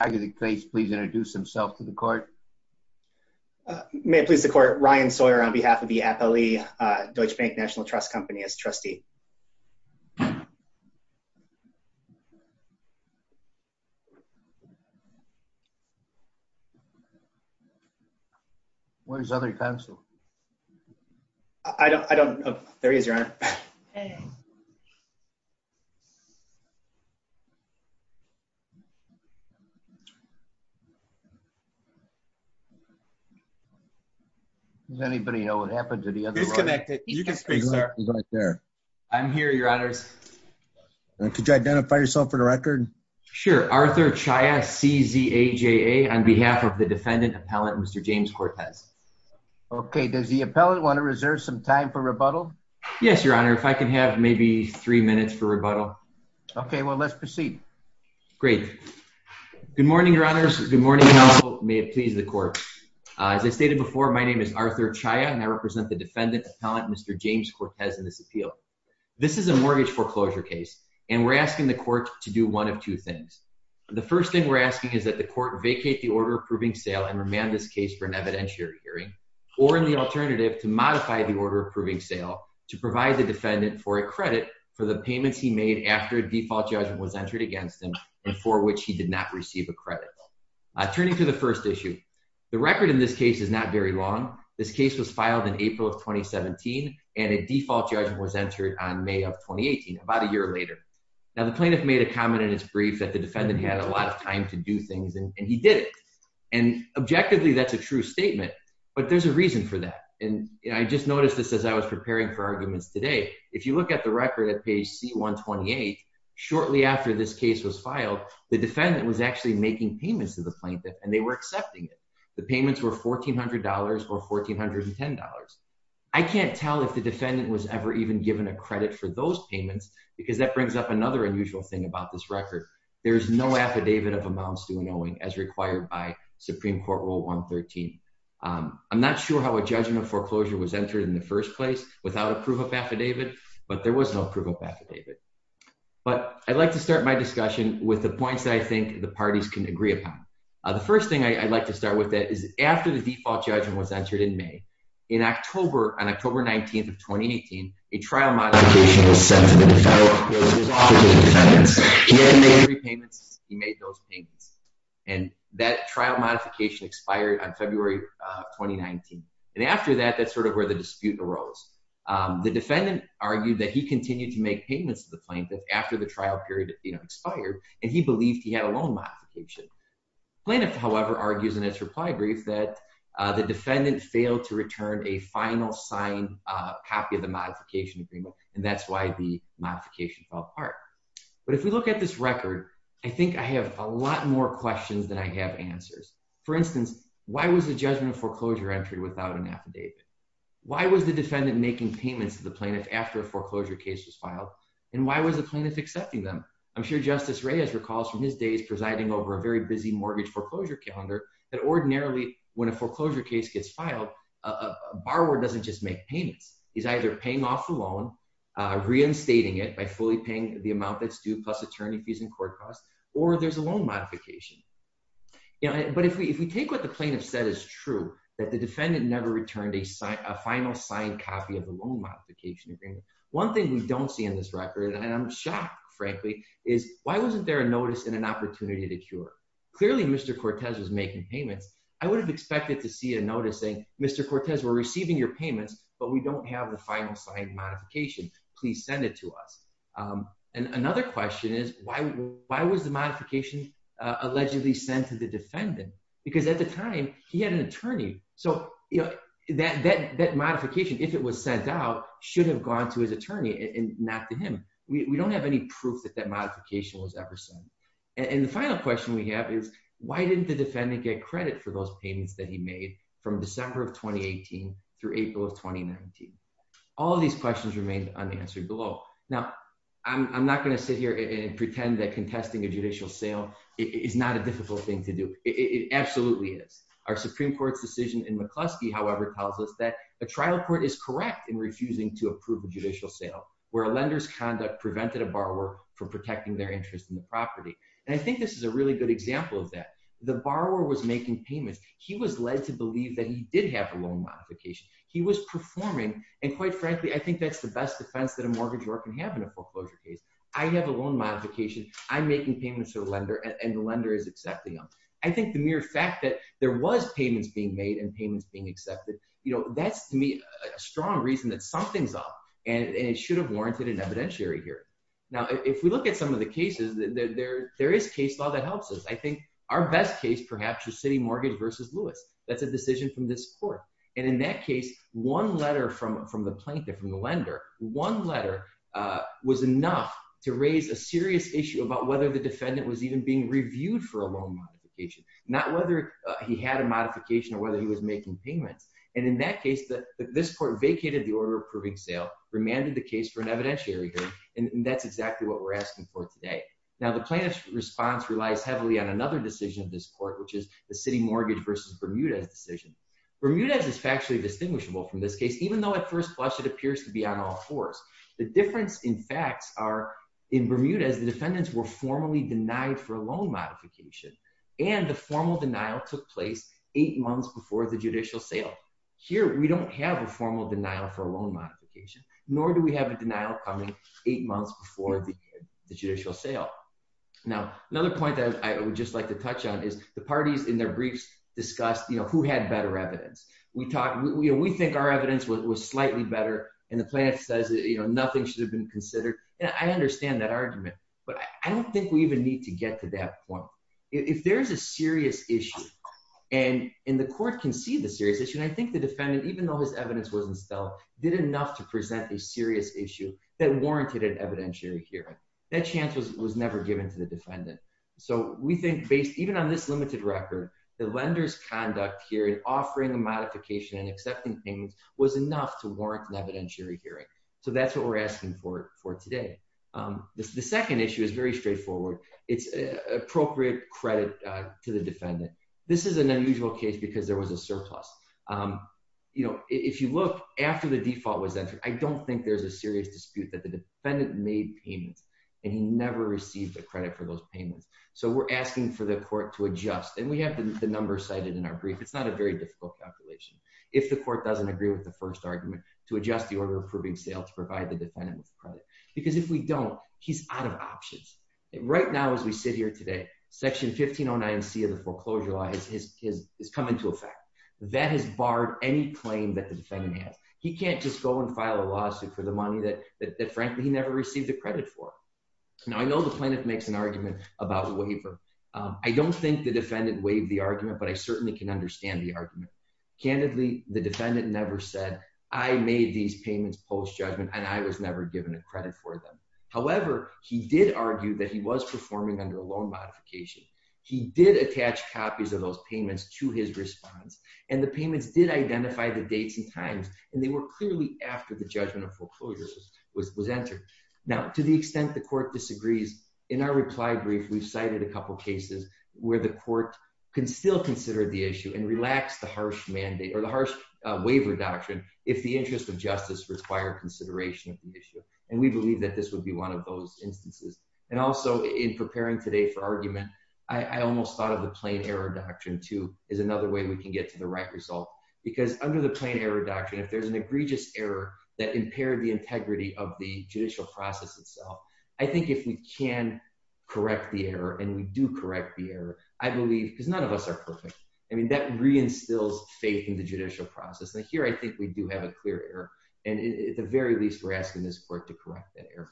I think Turning to the first issue, the record in this case is not very long. This case was filed in April of 2017 and a default judgment was entered on May of 2018, about a year later. Now, the plaintiff made a comment in his brief that the defendant had a lot of time to do things and he did it. And objectively, that's a true statement, but there's a reason for that. And I just noticed this as I was preparing for arguments today. If you look at the record at page C-128, shortly after this case was filed, the defendant was actually making payments to the plaintiff and they were accepting it. The payments were $1,400 or $1,410. I can't tell if the defendant was ever even given a credit for those payments because that brings up another unusual thing about this record. There's no affidavit of amounts due knowing as required by Supreme Court Rule 113. I'm not sure how a judgment foreclosure was entered in the first place without a proof of affidavit, but there was no proof of affidavit. But I'd like to start my discussion with the points that I think the parties can agree upon. The first thing I'd like to start with that is after the default judgment was entered in May, in October, on October 19th of 2018, a trial modification was sent to the defendant. He made those payments. And that trial modification expired on February 2019. And after that, that's sort of where the dispute arose. The defendant argued that he continued to make payments to the plaintiff after the trial period expired, and he believed he had a loan modification. Plaintiff, however, argues in his reply brief that the defendant failed to return a final signed copy of the modification agreement. And that's why the modification fell apart. But if we look at this record, I think I have a lot more questions than I have answers. For instance, why was the judgment foreclosure entry without an affidavit? Why was the defendant making payments to the plaintiff after a foreclosure case was filed? And why was the plaintiff accepting them? I'm sure Justice Reyes recalls from his days presiding over a very busy mortgage foreclosure calendar that ordinarily when a foreclosure case gets filed, a borrower doesn't just make payments. He's either paying off the loan, reinstating it by fully paying the amount that's due plus attorney fees and court costs, or there's a loan modification. But if we take what the plaintiff said is true, that the defendant never returned a final signed copy of the loan modification agreement, one thing we don't see in this record, and I'm shocked, frankly, is why wasn't there a notice and an opportunity to cure? Clearly, Mr. Cortez was making payments. I would have expected to see a notice saying, Mr. Cortez, we're receiving your payments, but we don't have the final signed modification. Please send it to us. And another question is, why was the modification allegedly sent to the defendant? Because at the time, he had an attorney. So that modification, if it was sent out, should have gone to his attorney and not to him. We don't have any proof that that modification was ever sent. And the final question we have is, why didn't the defendant get credit for those payments that he made from December of 2018 through April of 2019? All of these questions remained unanswered below. Now, I'm not going to sit here and pretend that contesting a judicial sale is not a difficult thing to do. It absolutely is. Our Supreme Court's decision in McCluskey, however, tells us that a trial court is correct in refusing to approve a judicial sale, where a lender's conduct prevented a borrower from protecting their interest in the property. And I think this is a really good example of that. The borrower was making payments. He was led to believe that he did have a loan modification. He was performing, and quite frankly, I think that's the best defense that a mortgage borrower can have in a foreclosure case. I have a loan modification. I'm making payments to a lender, and the lender is accepting them. I think the mere fact that there was payments being made and payments being accepted, that's, to me, a strong reason that something's up, and it should have warranted an evidentiary hearing. Now, if we look at some of the cases, there is case law that helps us. I think our best case, perhaps, is City Mortgage versus Lewis. That's a decision from this court. And in that case, one letter from the plaintiff, from the lender, was enough to raise a serious issue about whether the defendant was even being reviewed for a loan modification, not whether he had a modification or whether he was making payments. And in that case, this court vacated the order approving sale, remanded the case for an evidentiary hearing, and that's exactly what we're asking for today. Now, the plaintiff's response relies heavily on another decision of this court, which is the City Mortgage versus Bermudez decision. Bermudez is factually distinguishable from this case, even though at first blush, it appears to be on all fours. The difference in facts are, in Bermudez, the defendants were formally denied for a loan modification, and the formal denial took place eight months before the judicial sale. Here, we don't have a formal denial for a loan modification, nor do we have a denial coming eight months before the judicial sale. Now, another point that I would just like to touch on is the parties in their briefs discussed who had better evidence. We think our evidence was slightly better, and the plaintiff says, you know, nothing should have been considered. And I understand that argument, but I don't think we even need to get to that point. If there's a serious issue, and the court can see the serious issue, and I think the defendant, even though his evidence wasn't stellar, did enough to present a serious issue that warranted an evidentiary hearing. That chance was never given to the defendant. So, we think based, even on this limited record, the lender's conduct here in offering a modification and accepting payments was enough to warrant an evidentiary hearing. So, that's what we're asking for today. The second issue is very straightforward. It's appropriate credit to the defendant. This is an unusual case because there was a surplus. You know, if you look after the default was entered, I don't think there's a serious dispute that the defendant made payments, and he never received the credit for those payments. So, we're asking for the court to adjust. And we have the number cited in our brief. It's not a very difficult calculation. If the court doesn't agree with the first argument, to adjust the order approving sale, to provide the defendant with credit. Because if we don't, he's out of options. Right now, as we sit here today, Section 1509C of the Foreclosure Law has come into effect. That has barred any claim that the defendant has. He can't just go and file a lawsuit for the money that frankly, he never received the credit for. Now, I know the plaintiff makes an argument about a waiver. I don't think the defendant waived the argument, but I certainly can understand the argument. Candidly, the defendant never said, I made these payments post-judgment, and I was never given a credit for them. However, he did argue that he was performing under a loan modification. He did attach copies of those payments to his response. And the payments did identify the dates and times, and they were clearly after the judgment of foreclosure was entered. Now, to the extent the court disagrees, in our reply brief, we've cited a harsh mandate or the harsh waiver doctrine, if the interest of justice required consideration of the issue. And we believe that this would be one of those instances. And also, in preparing today for argument, I almost thought of the Plain Error Doctrine too, as another way we can get to the right result. Because under the Plain Error Doctrine, if there's an egregious error that impaired the integrity of the judicial process itself, I think if we can correct the error, and we do correct the error, I believe, because none of us are perfect. I mean, that reinstills faith in the judicial process. Now, here, I think we do have a clear error. And at the very least, we're asking this court to correct that error.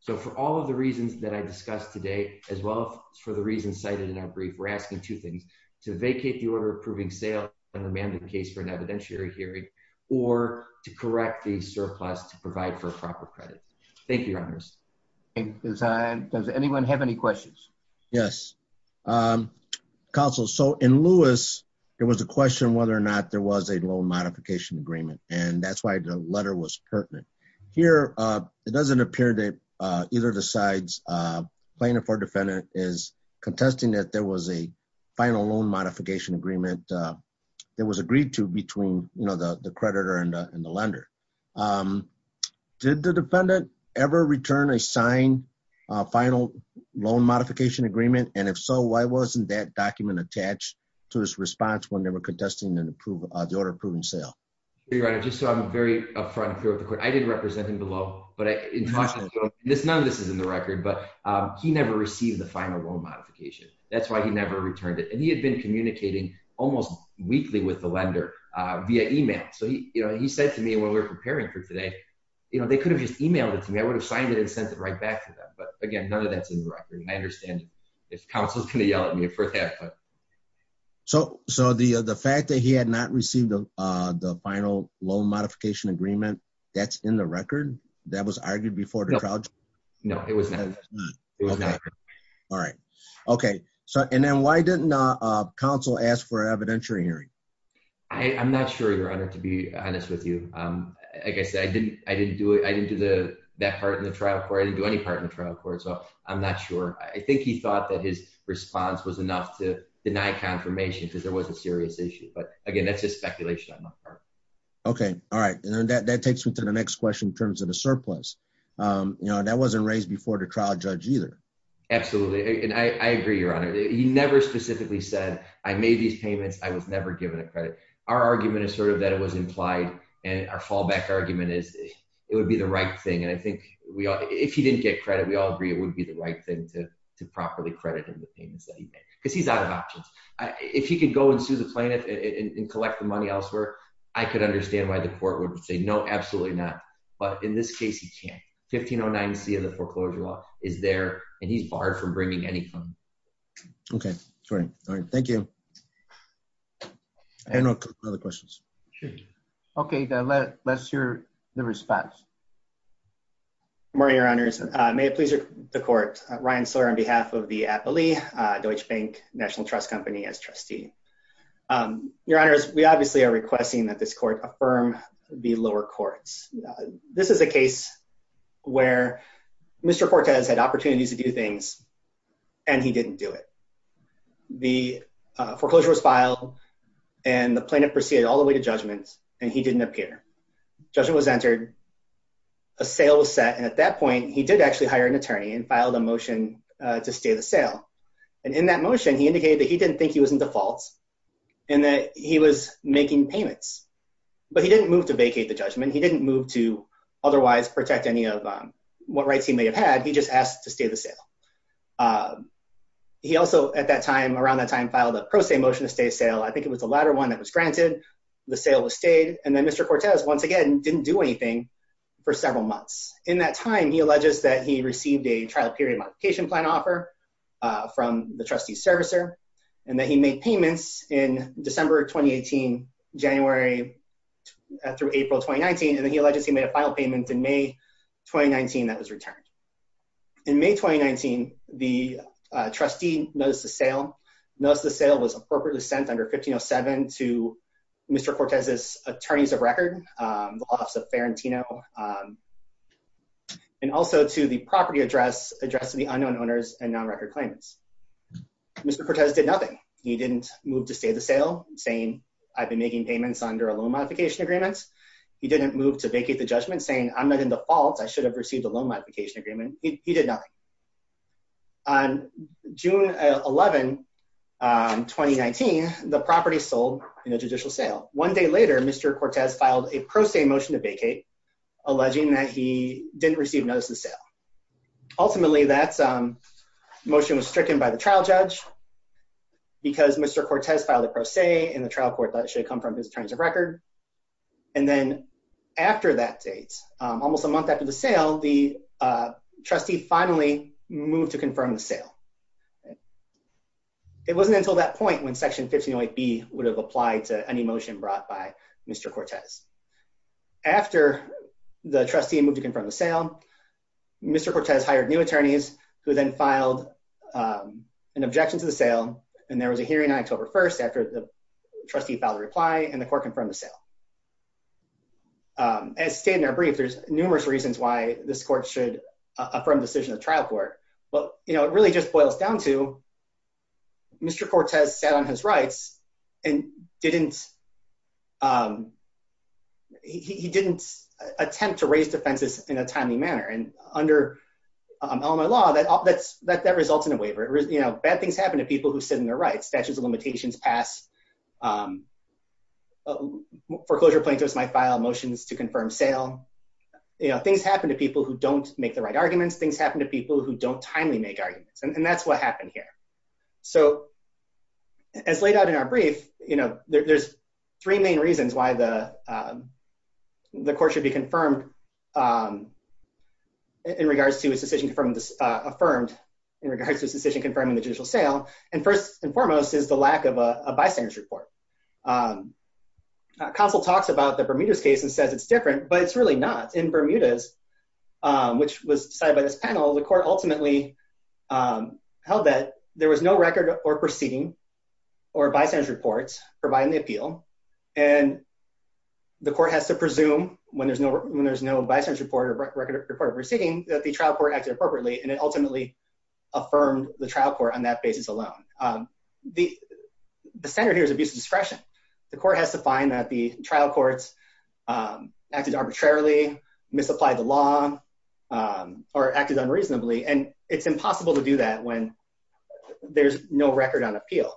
So for all of the reasons that I discussed today, as well as for the reasons cited in our brief, we're asking two things, to vacate the order approving sale and remand the case for an evidentiary hearing, or to correct the surplus to provide for a proper credit. Thank you, Your Honors. Does anyone have any questions? Yes. Counsel, so in Lewis, there was a question whether or not there was a loan modification agreement. And that's why the letter was pertinent. Here, it doesn't appear that either the sides plaintiff or defendant is contesting that there was a final loan modification agreement that was agreed to between the creditor and the lender. Did the defendant ever return a signed final loan modification agreement? And if so, why wasn't that document attached to his response when they were contesting the order approving sale? Your Honor, just so I'm very upfront and clear with the court, I did represent him below, but none of this is in the record, but he never received the final loan modification. That's why he never returned it. And he had been communicating almost weekly with the lender via email. So he said to me when we were preparing for today, they could have just emailed it to me. I would have signed it and sent it right back to them. But again, none of that's in the record. And I understand if counsel's going to yell at me for that. So the fact that he had not received the final loan modification agreement, that's in the record that was argued before the trial? No, it was not. All right. Okay. And then why didn't counsel ask for evidentiary hearing? I'm not sure, Your Honor, to be honest with you. Like I said, I didn't do that part in the trial court. I didn't do any part in the trial court. So I'm not sure. I think he thought that his response was enough to deny confirmation because there was a serious issue. But again, that's just speculation on my part. Okay. All right. And then that takes me to the next question in terms of the surplus. That wasn't raised before the trial judge either. Absolutely. And I agree, Your Honor. He never specifically said, I made these payments. I was never given a credit. Our argument is sort of that it was implied. And our fallback argument is it would be the right thing. And I think if he didn't get credit, we all agree it would be the right thing to properly credit him the payments that he made. Because he's out of options. If he could go and sue the plaintiff and collect the money elsewhere, I could understand why the court would say, no, absolutely not. But in this case, he can't. 1509C of the foreclosure law is there, and he's barred from bringing any money. Okay. Sorry. All right. Thank you. Any other questions? Okay. Let's hear the response. Good morning, Your Honors. May it please the court. Ryan Sore on behalf of the Appley Deutsche Bank National Trust Company as trustee. Your Honors, we obviously are requesting that this court affirm the lower courts. This is a case where Mr. Fortes had opportunities to do things, and he didn't do it. The foreclosure was filed, and the plaintiff proceeded all the way to judgment, and he didn't appear. Judgment was entered. A sale was set. And at that point, he did actually hire an attorney and filed a motion to stay the sale. And in that motion, he indicated that he didn't think he was in default, and that he was making payments. But he didn't move to vacate the judgment. He didn't move to protect any of what rights he may have had. He just asked to stay the sale. He also, at that time, around that time, filed a pro se motion to stay sale. I think it was the latter one that was granted. The sale was stayed. And then Mr. Fortes, once again, didn't do anything for several months. In that time, he alleges that he received a trial period modification plan offer from the trustee servicer, and that he made payments in December 2018, January through April 2019. And then he alleges he made a final payment in May 2019 that was returned. In May 2019, the trustee noticed the sale. Noticed the sale was appropriately sent under 1507 to Mr. Cortez's attorneys of record, the office of Farentino, and also to the property address, address of the unknown owners and non-record claimants. Mr. Cortez did nothing. He didn't move to stay the sale, saying I've been making payments under a loan modification agreement. He didn't move to vacate the judgment, saying I'm not in the fault. I should have received a loan modification agreement. He did nothing. On June 11, 2019, the property sold in a judicial sale. One day later, Mr. Cortez filed a pro se motion to vacate, alleging that he didn't receive notice of sale. Ultimately, that motion was stricken by the trial judge because Mr. Cortez filed a pro se in the trial court that should have come from his attorneys of record. And then after that date, almost a month after the sale, the trustee finally moved to confirm the sale. It wasn't until that point when Section 1508B would have applied to any motion brought by Mr. Cortez. After the trustee moved to confirm the an objection to the sale, and there was a hearing on October 1st after the trustee filed a reply and the court confirmed the sale. As stated in our brief, there's numerous reasons why this court should affirm the decision of the trial court. But you know, it really just boils down to Mr. Cortez sat on his rights and didn't, he didn't attempt to raise defenses in a element of law that results in a waiver. You know, bad things happen to people who sit on their rights. Statutes of limitations pass. Foreclosure plaintiffs might file motions to confirm sale. You know, things happen to people who don't make the right arguments. Things happen to people who don't timely make arguments. And that's what happened here. So as laid out in our brief, you know, there's three main reasons why the court should be confirmed in regards to his decision from this affirmed in regards to his decision confirming the judicial sale. And first and foremost is the lack of a bystanders report. Counsel talks about the Bermuda's case and says it's different, but it's really not. In Bermuda's, which was decided by this panel, the court ultimately held that there was no record or proceeding or bystanders reports providing the appeal. And the court has to presume when there's no, when there's no bystander report or record of proceeding that the trial court acted appropriately. And it ultimately affirmed the trial court on that basis alone. The standard here is abuse of discretion. The court has to find that the trial courts acted arbitrarily, misapplied the law or acted unreasonably. And it's impossible to do that when there's no record on appeal.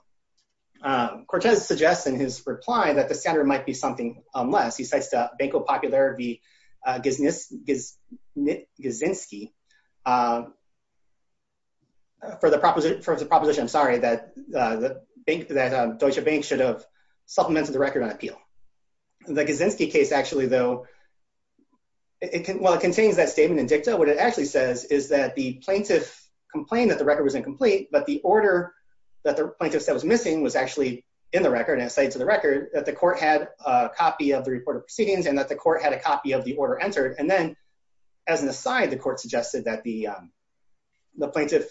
Cortez suggests in his reply that the standard might be something less. He says to Banco Popular v. Gizinski, for the proposition, I'm supplementing the record on appeal. The Gizinski case actually, though, while it contains that statement in dicta, what it actually says is that the plaintiff complained that the record was incomplete, but the order that the plaintiff said was missing was actually in the record and cited to the record that the court had a copy of the report of proceedings and that the court had a copy of the order entered. And then as an aside, the court suggested that the plaintiff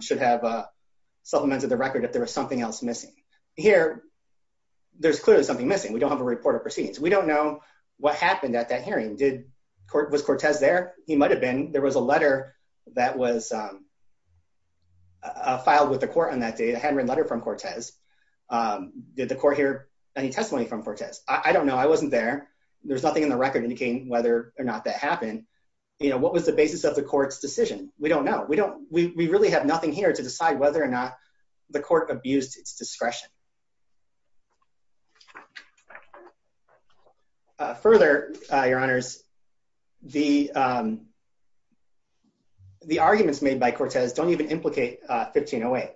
should have supplemented the record if there was something else missing. Here, there's clearly something missing. We don't have a report of proceedings. We don't know what happened at that hearing. Was Cortez there? He might have been. There was a letter that was filed with the court on that day. They hadn't written a letter from Cortez. Did the court hear any testimony from Cortez? I don't know. I wasn't there. There's nothing in the record indicating whether or not that happened. What was the basis of the court's decision? We don't know. We really have nothing here to decide whether or not the court abused its discretion. Further, Your Honors, the arguments made by Cortez don't even implicate 1508.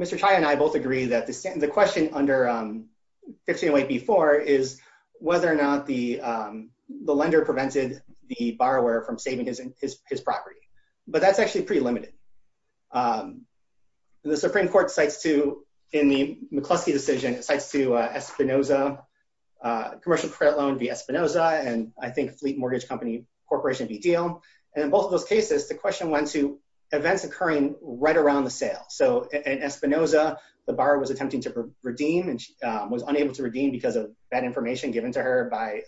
Mr. Chaya and I both agree that the question under 1508-B-4 is whether or not the lender prevented the borrower from saving his property. But that's actually pretty limited. The Supreme Court cites to, in the McCluskey decision, it cites to Espinosa, commercial credit loan v. Espinosa, and I think Fleet Mortgage Company Corporation v. Diehl. In both of those cases, the question went to events occurring right around the sale. In Espinosa, the borrower was attempting to redeem and she was unable to redeem because of bad information given to her by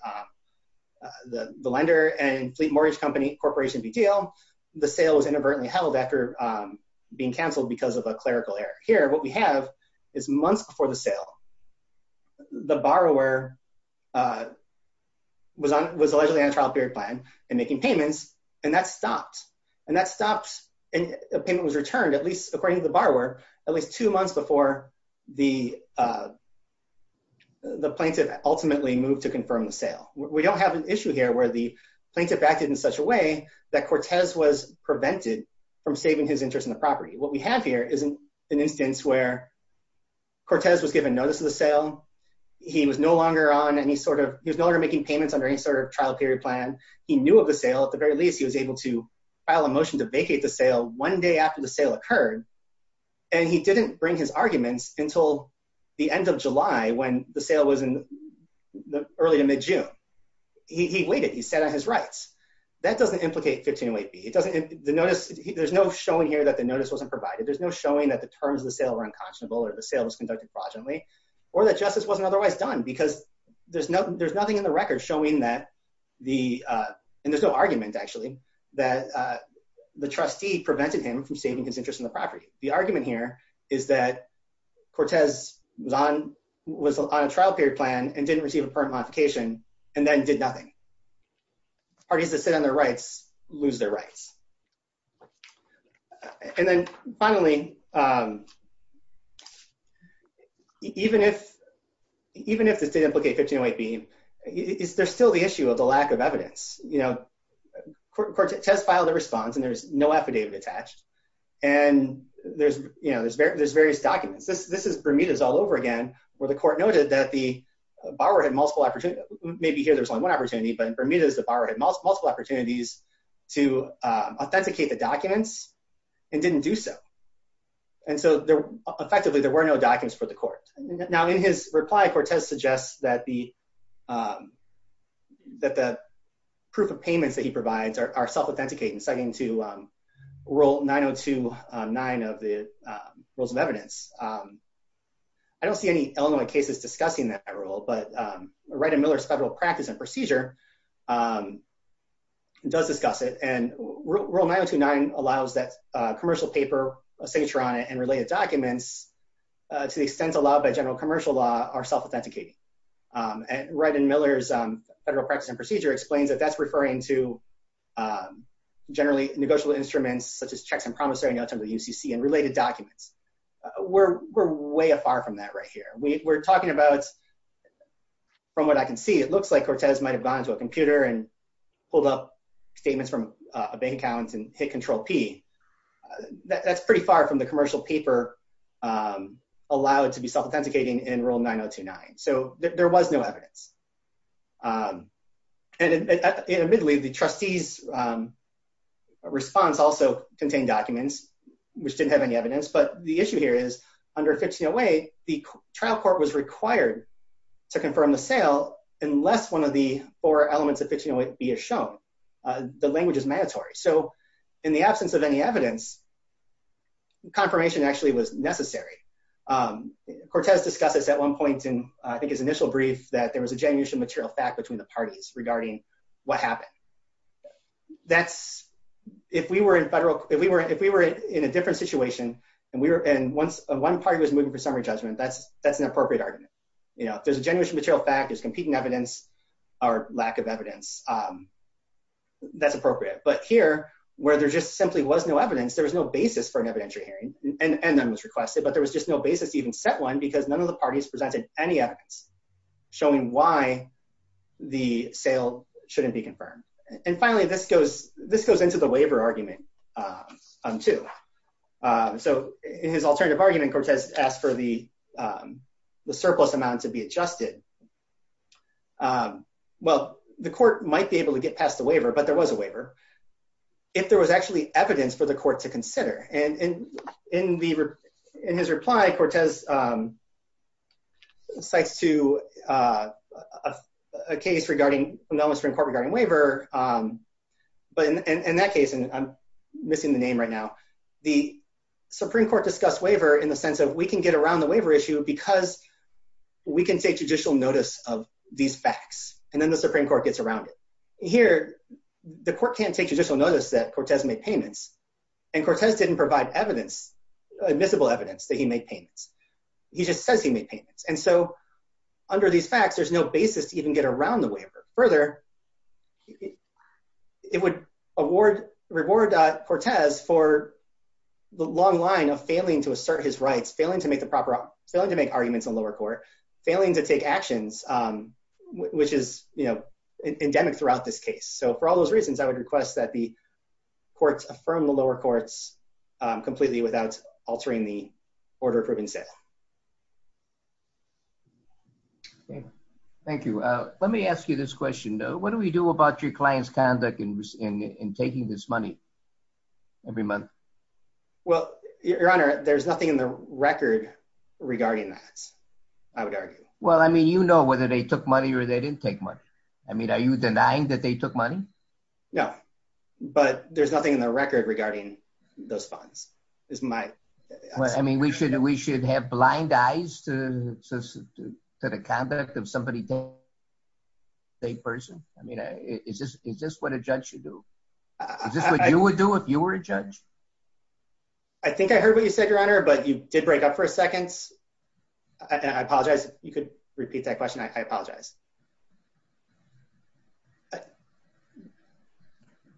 the lender. In Fleet Mortgage Company Corporation v. Diehl, the sale was inadvertently held after being canceled because of a clerical error. Here, what we have is months before the sale, the borrower was allegedly on a trial period plan and making payments and that stopped. And that stopped and the payment was returned, at least according to the borrower, at least two months before the plaintiff ultimately moved to confirm the sale. We don't have an issue here where the interest is in the property. What we have here is an instance where Cortez was given notice of the sale. He was no longer on any sort of, he was no longer making payments under any sort of trial period plan. He knew of the sale. At the very least, he was able to file a motion to vacate the sale one day after the sale occurred. And he didn't bring his arguments until the end of July when the sale was in the early to mid-June. He waited. He sat on his rights. That doesn't implicate 1508B. There's no showing here that the notice wasn't provided. There's no showing that the terms of the sale were unconscionable or the sale was conducted fraudulently or that justice wasn't otherwise done because there's nothing in the record showing that the, and there's no argument actually, that the trustee prevented him from saving his interest in the property. The argument here is that Cortez was on a trial period plan and didn't receive a notice. And then finally, even if this didn't implicate 1508B, there's still the issue of the lack of evidence. Cortez filed a response and there's no affidavit attached. And there's various documents. This is Bermuda's all over again where the court noted that the borrower had multiple opportunities. Maybe here there's only one opportunity, but in Bermuda's, multiple opportunities to authenticate the documents and didn't do so. And so effectively, there were no documents for the court. Now in his reply, Cortez suggests that the proof of payments that he provides are self-authenticating, second to rule 9029 of the rules of evidence. I don't see any Illinois cases discussing that rule, but Miller's Federal Practice and Procedure does discuss it. And rule 9029 allows that commercial paper signature on it and related documents to the extent allowed by general commercial law are self-authenticating. And right in Miller's Federal Practice and Procedure explains that that's referring to generally negotiable instruments such as checks and promissory notes under the UCC and related documents. We're way afar from that right here. We're talking about from what I can see, it looks like Cortez might've gone into a computer and pulled up statements from a bank account and hit control P. That's pretty far from the commercial paper allowed to be self-authenticating in rule 9029. So there was no evidence. And admittedly, the trustee's response also contained documents, which didn't have any to confirm the sale, unless one of the four elements of 1608B is shown. The language is mandatory. So in the absence of any evidence, confirmation actually was necessary. Cortez discussed this at one point in, I think his initial brief, that there was a general issue material fact between the parties regarding what happened. If we were in a different situation and one party was moving for summary judgment, that's an appropriate argument. There's a general issue material fact, there's competing evidence or lack of evidence. That's appropriate. But here, where there just simply was no evidence, there was no basis for an evidentiary hearing and none was requested, but there was just no basis to even set one because none of the parties presented any evidence showing why the sale shouldn't be confirmed. And finally, this goes into the waiver argument too. So in his alternative argument, Cortez asked for the surplus amount to be adjusted. Well, the court might be able to get past the waiver, but there was a waiver, if there was actually evidence for the court to consider. And in his reply, Cortez cites to a case regarding, from the U.S. Supreme Court, regarding waiver. But in that case, and I'm missing the name right now, the Supreme Court discussed waiver in the sense of, we can get around the waiver issue because we can take judicial notice of these facts, and then the Supreme Court gets around it. Here, the court can't take judicial notice that Cortez made payments, and Cortez didn't provide evidence, admissible evidence, that he made payments. He just says he made payments. And so under these facts, there's no basis to even get around the waiver. Further, it would reward Cortez for the long line of assert his rights, failing to make arguments in lower court, failing to take actions, which is endemic throughout this case. So for all those reasons, I would request that the courts affirm the lower courts completely without altering the order of proven sale. Thank you. Let me ask you this question. What do we do about your client's conduct in taking this money every month? Well, your honor, there's nothing in the record regarding that, I would argue. Well, I mean, you know whether they took money or they didn't take money. I mean, are you denying that they took money? No, but there's nothing in the record regarding those funds. I mean, we should have blind eyes to the conduct of somebody in the same person. I mean, is this what a judge should do? Is this what you would do if you were a judge? I think I heard what you said, your honor, but you did break up for a second. I apologize. You could repeat that question. I apologize.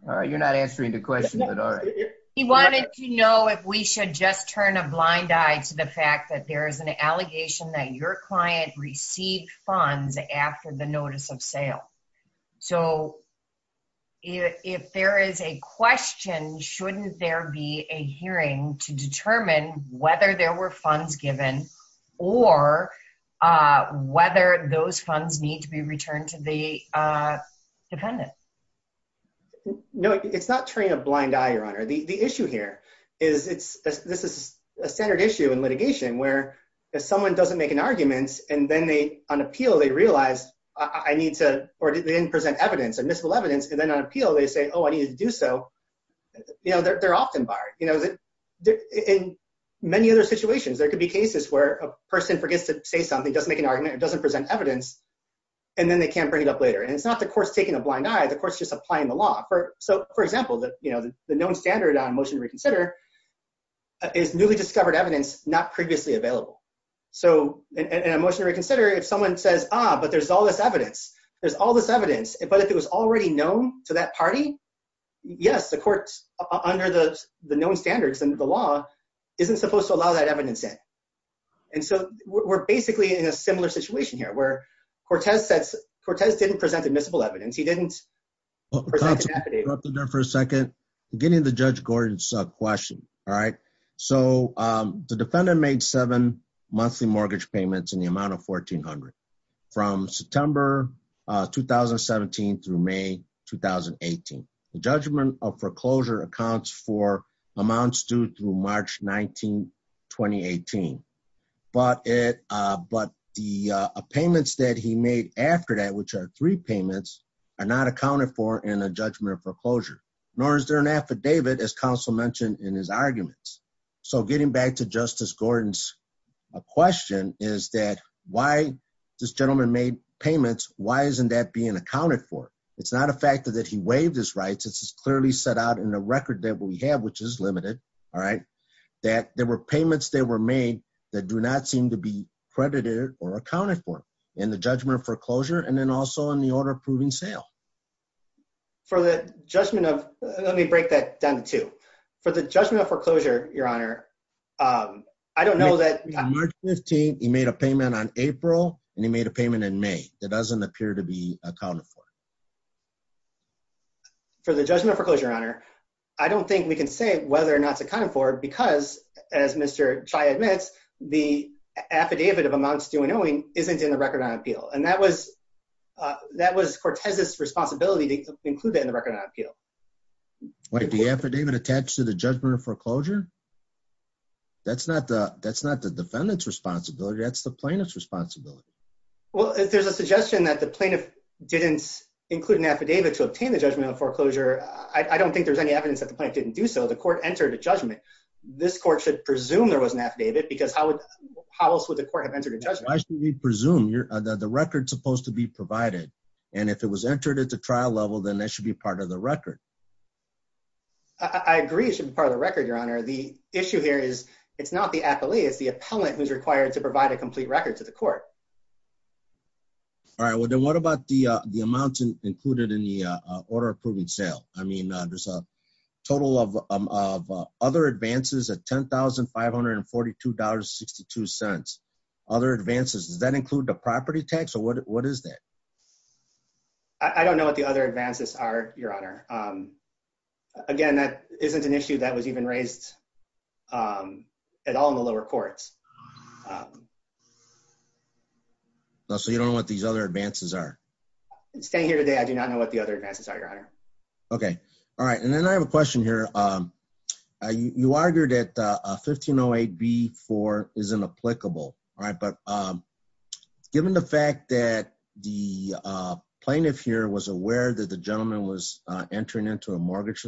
All right, you're not answering the question. He wanted to know if we should just turn a blind eye to the fact that there is an allegation that your client received funds after the notice of sale. So, if there is a question, shouldn't there be a hearing to determine whether there were funds given or whether those funds need to be returned to the dependent? No, it's not turning a blind eye, your honor. The issue here is this is a standard issue in litigation where if someone doesn't make an argument and then on appeal they realize I need to or they didn't present evidence, admissible evidence, and then on appeal they say, oh, I needed to do so, you know, they're often barred. In many other situations, there could be cases where a person forgets to say something, doesn't make an argument, or doesn't present evidence, and then they can't bring it up later. And it's not the court's taking a blind eye. The court's just applying the law. So, for example, the known standard on motion to reconsider is newly discovered evidence not previously available. So, in a motion to reconsider, if someone says, ah, but there's all this evidence, there's all this evidence, but if it was already known to that party, yes, the court's under the known standards and the law isn't supposed to allow that evidence in. And so, we're basically in a similar situation here where Cortez didn't present admissible evidence. He didn't present evidence. So, the defendant made seven monthly mortgage payments in the amount of $1,400 from September 2017 through May 2018. The judgment of foreclosure accounts for amounts due through March 19, 2018. But the payments that he made after that, which are three payments, are not accounted for in a judgment of foreclosure, nor is there an affidavit, as counsel mentioned in his arguments. So, getting back to Justice Gordon's question, is that why this gentleman made payments, why isn't that being accounted for? It's not a fact that he waived his rights. This is clearly set out in the record that we have, which is limited, all right, that there were payments that were made that do not seem to be credited or accounted for in the judgment of foreclosure and then also in the order of proving sale. For the judgment of... Let me break that down to two. For the judgment of foreclosure, Your Honor, I don't know that... March 15, he made a payment on April and he made a payment in May that doesn't appear to be accounted for. For the judgment of foreclosure, Your Honor, I don't think we can say whether or not it's isn't in the record on appeal. And that was Cortez's responsibility to include that in the record on appeal. Wait, the affidavit attached to the judgment of foreclosure? That's not the defendant's responsibility, that's the plaintiff's responsibility. Well, if there's a suggestion that the plaintiff didn't include an affidavit to obtain the judgment of foreclosure, I don't think there's any evidence that the plaintiff didn't do so. The court entered a judgment. This court should presume there was an affidavit because how else would the court have entered a judgment? Why should we presume? The record's supposed to be provided. And if it was entered at the trial level, then that should be part of the record. I agree it should be part of the record, Your Honor. The issue here is, it's not the appellee, it's the appellant who's required to provide a complete record to the court. All right. Well, then what about the amounts included in the order of proven sale? I mean, there's a total of other advances at $10,542.62. Other advances, does that include the property tax or what is that? I don't know what the other advances are, Your Honor. Again, that isn't an issue that was even raised at all in the lower courts. So you don't know what these other advances are? Staying here today, I do not know what the other advances are, Your Honor. Okay. All right. And then I have a question here. You argued that 1508B-4 is inapplicable, all right. But given the fact that the plaintiff here was aware that the gentleman was entering into a mortgage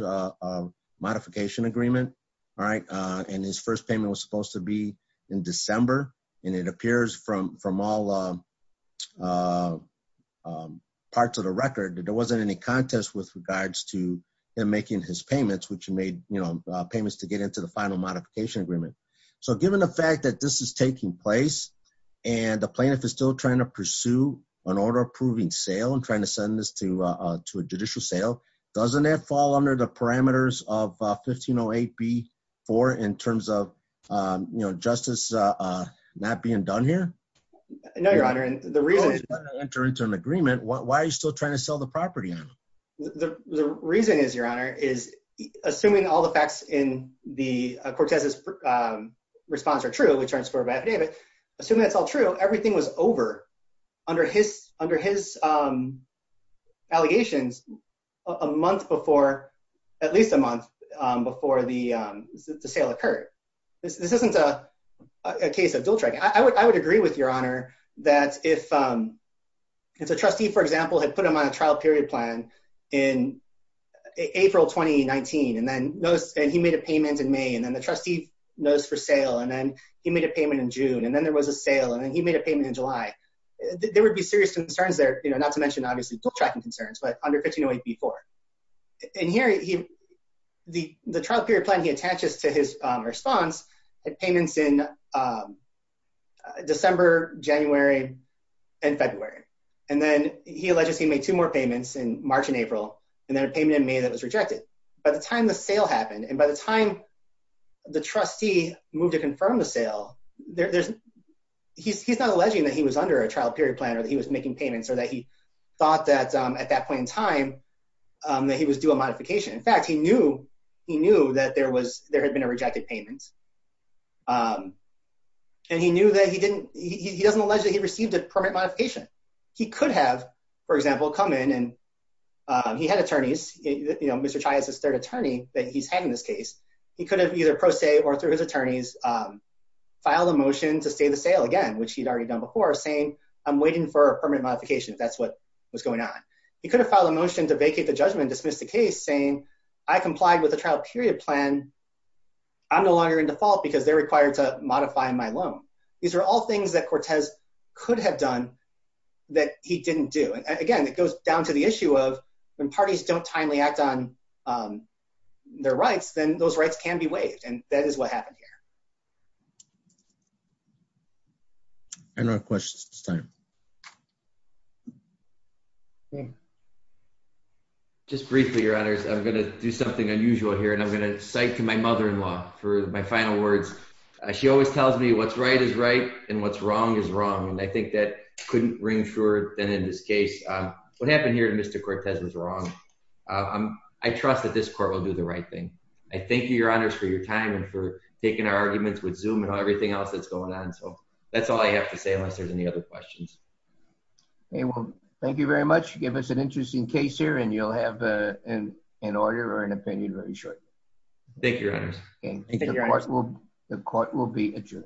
modification agreement, all right, and his first payment was supposed to be in December, and it appears from all parts of the record that there wasn't any contest with regards to him making his payments, which he made payments to get into the final modification agreement. So given the fact that this is taking place and the plaintiff is still trying to pursue an order of proving sale and trying to send this to a judicial sale, doesn't that fall under the not being done here? No, Your Honor. And the reason- If he's trying to enter into an agreement, why are you still trying to sell the property on him? The reason is, Your Honor, is assuming all the facts in Cortez's response are true, which are in score by affidavit, assuming that's all true, everything was over under his allegations a month before, at least a month before the sale occurred. This isn't a case of dual-tracking. I would agree with Your Honor that if the trustee, for example, had put him on a trial period plan in April 2019, and then he made a payment in May, and then the trustee knows for sale, and then he made a payment in June, and then there was a sale, and then he made a payment in July, there would be serious concerns there, not to mention, obviously, dual-tracking concerns, but under 1508B4. And here, the trial period plan he attaches to his response had payments in December, January, and February. And then he alleges he made two more payments in March and April, and then a payment in May that was rejected. By the time the sale a trial period plan, or that he was making payments, or that he thought that at that point in time that he was due a modification. In fact, he knew that there had been a rejected payment. And he knew that he didn't, he doesn't allege that he received a permit modification. He could have, for example, come in and he had attorneys, you know, Mr. Chai has his third attorney that he's had in this case. He could have either pro se or through his attorneys filed a motion to stay the sale again, which he'd already done before saying, I'm waiting for a permit modification. That's what was going on. He could have filed a motion to vacate the judgment, dismiss the case saying, I complied with the trial period plan. I'm no longer in default because they're required to modify my loan. These are all things that Cortez could have done that he didn't do. And again, it goes down to the issue of when parties don't timely act on their rights, then those rights can be waived. And that is what happened here. I don't have questions at this time. Just briefly, your honors, I'm going to do something unusual here and I'm going to cite to my mother-in-law for my final words. She always tells me what's right is right. And what's wrong is wrong. And I think that couldn't ring truer than in this case. What happened here to Mr. Cortez was wrong. I trust that this court will do the right thing. I thank you, your honors, for your time and for taking our arguments with Zoom and everything else that's going on. So that's all I have to say unless there's any other questions. Okay. Well, thank you very much. Give us an interesting case here and you'll have an order or an opinion really short. Thank you, your honors. The court will be adjourned.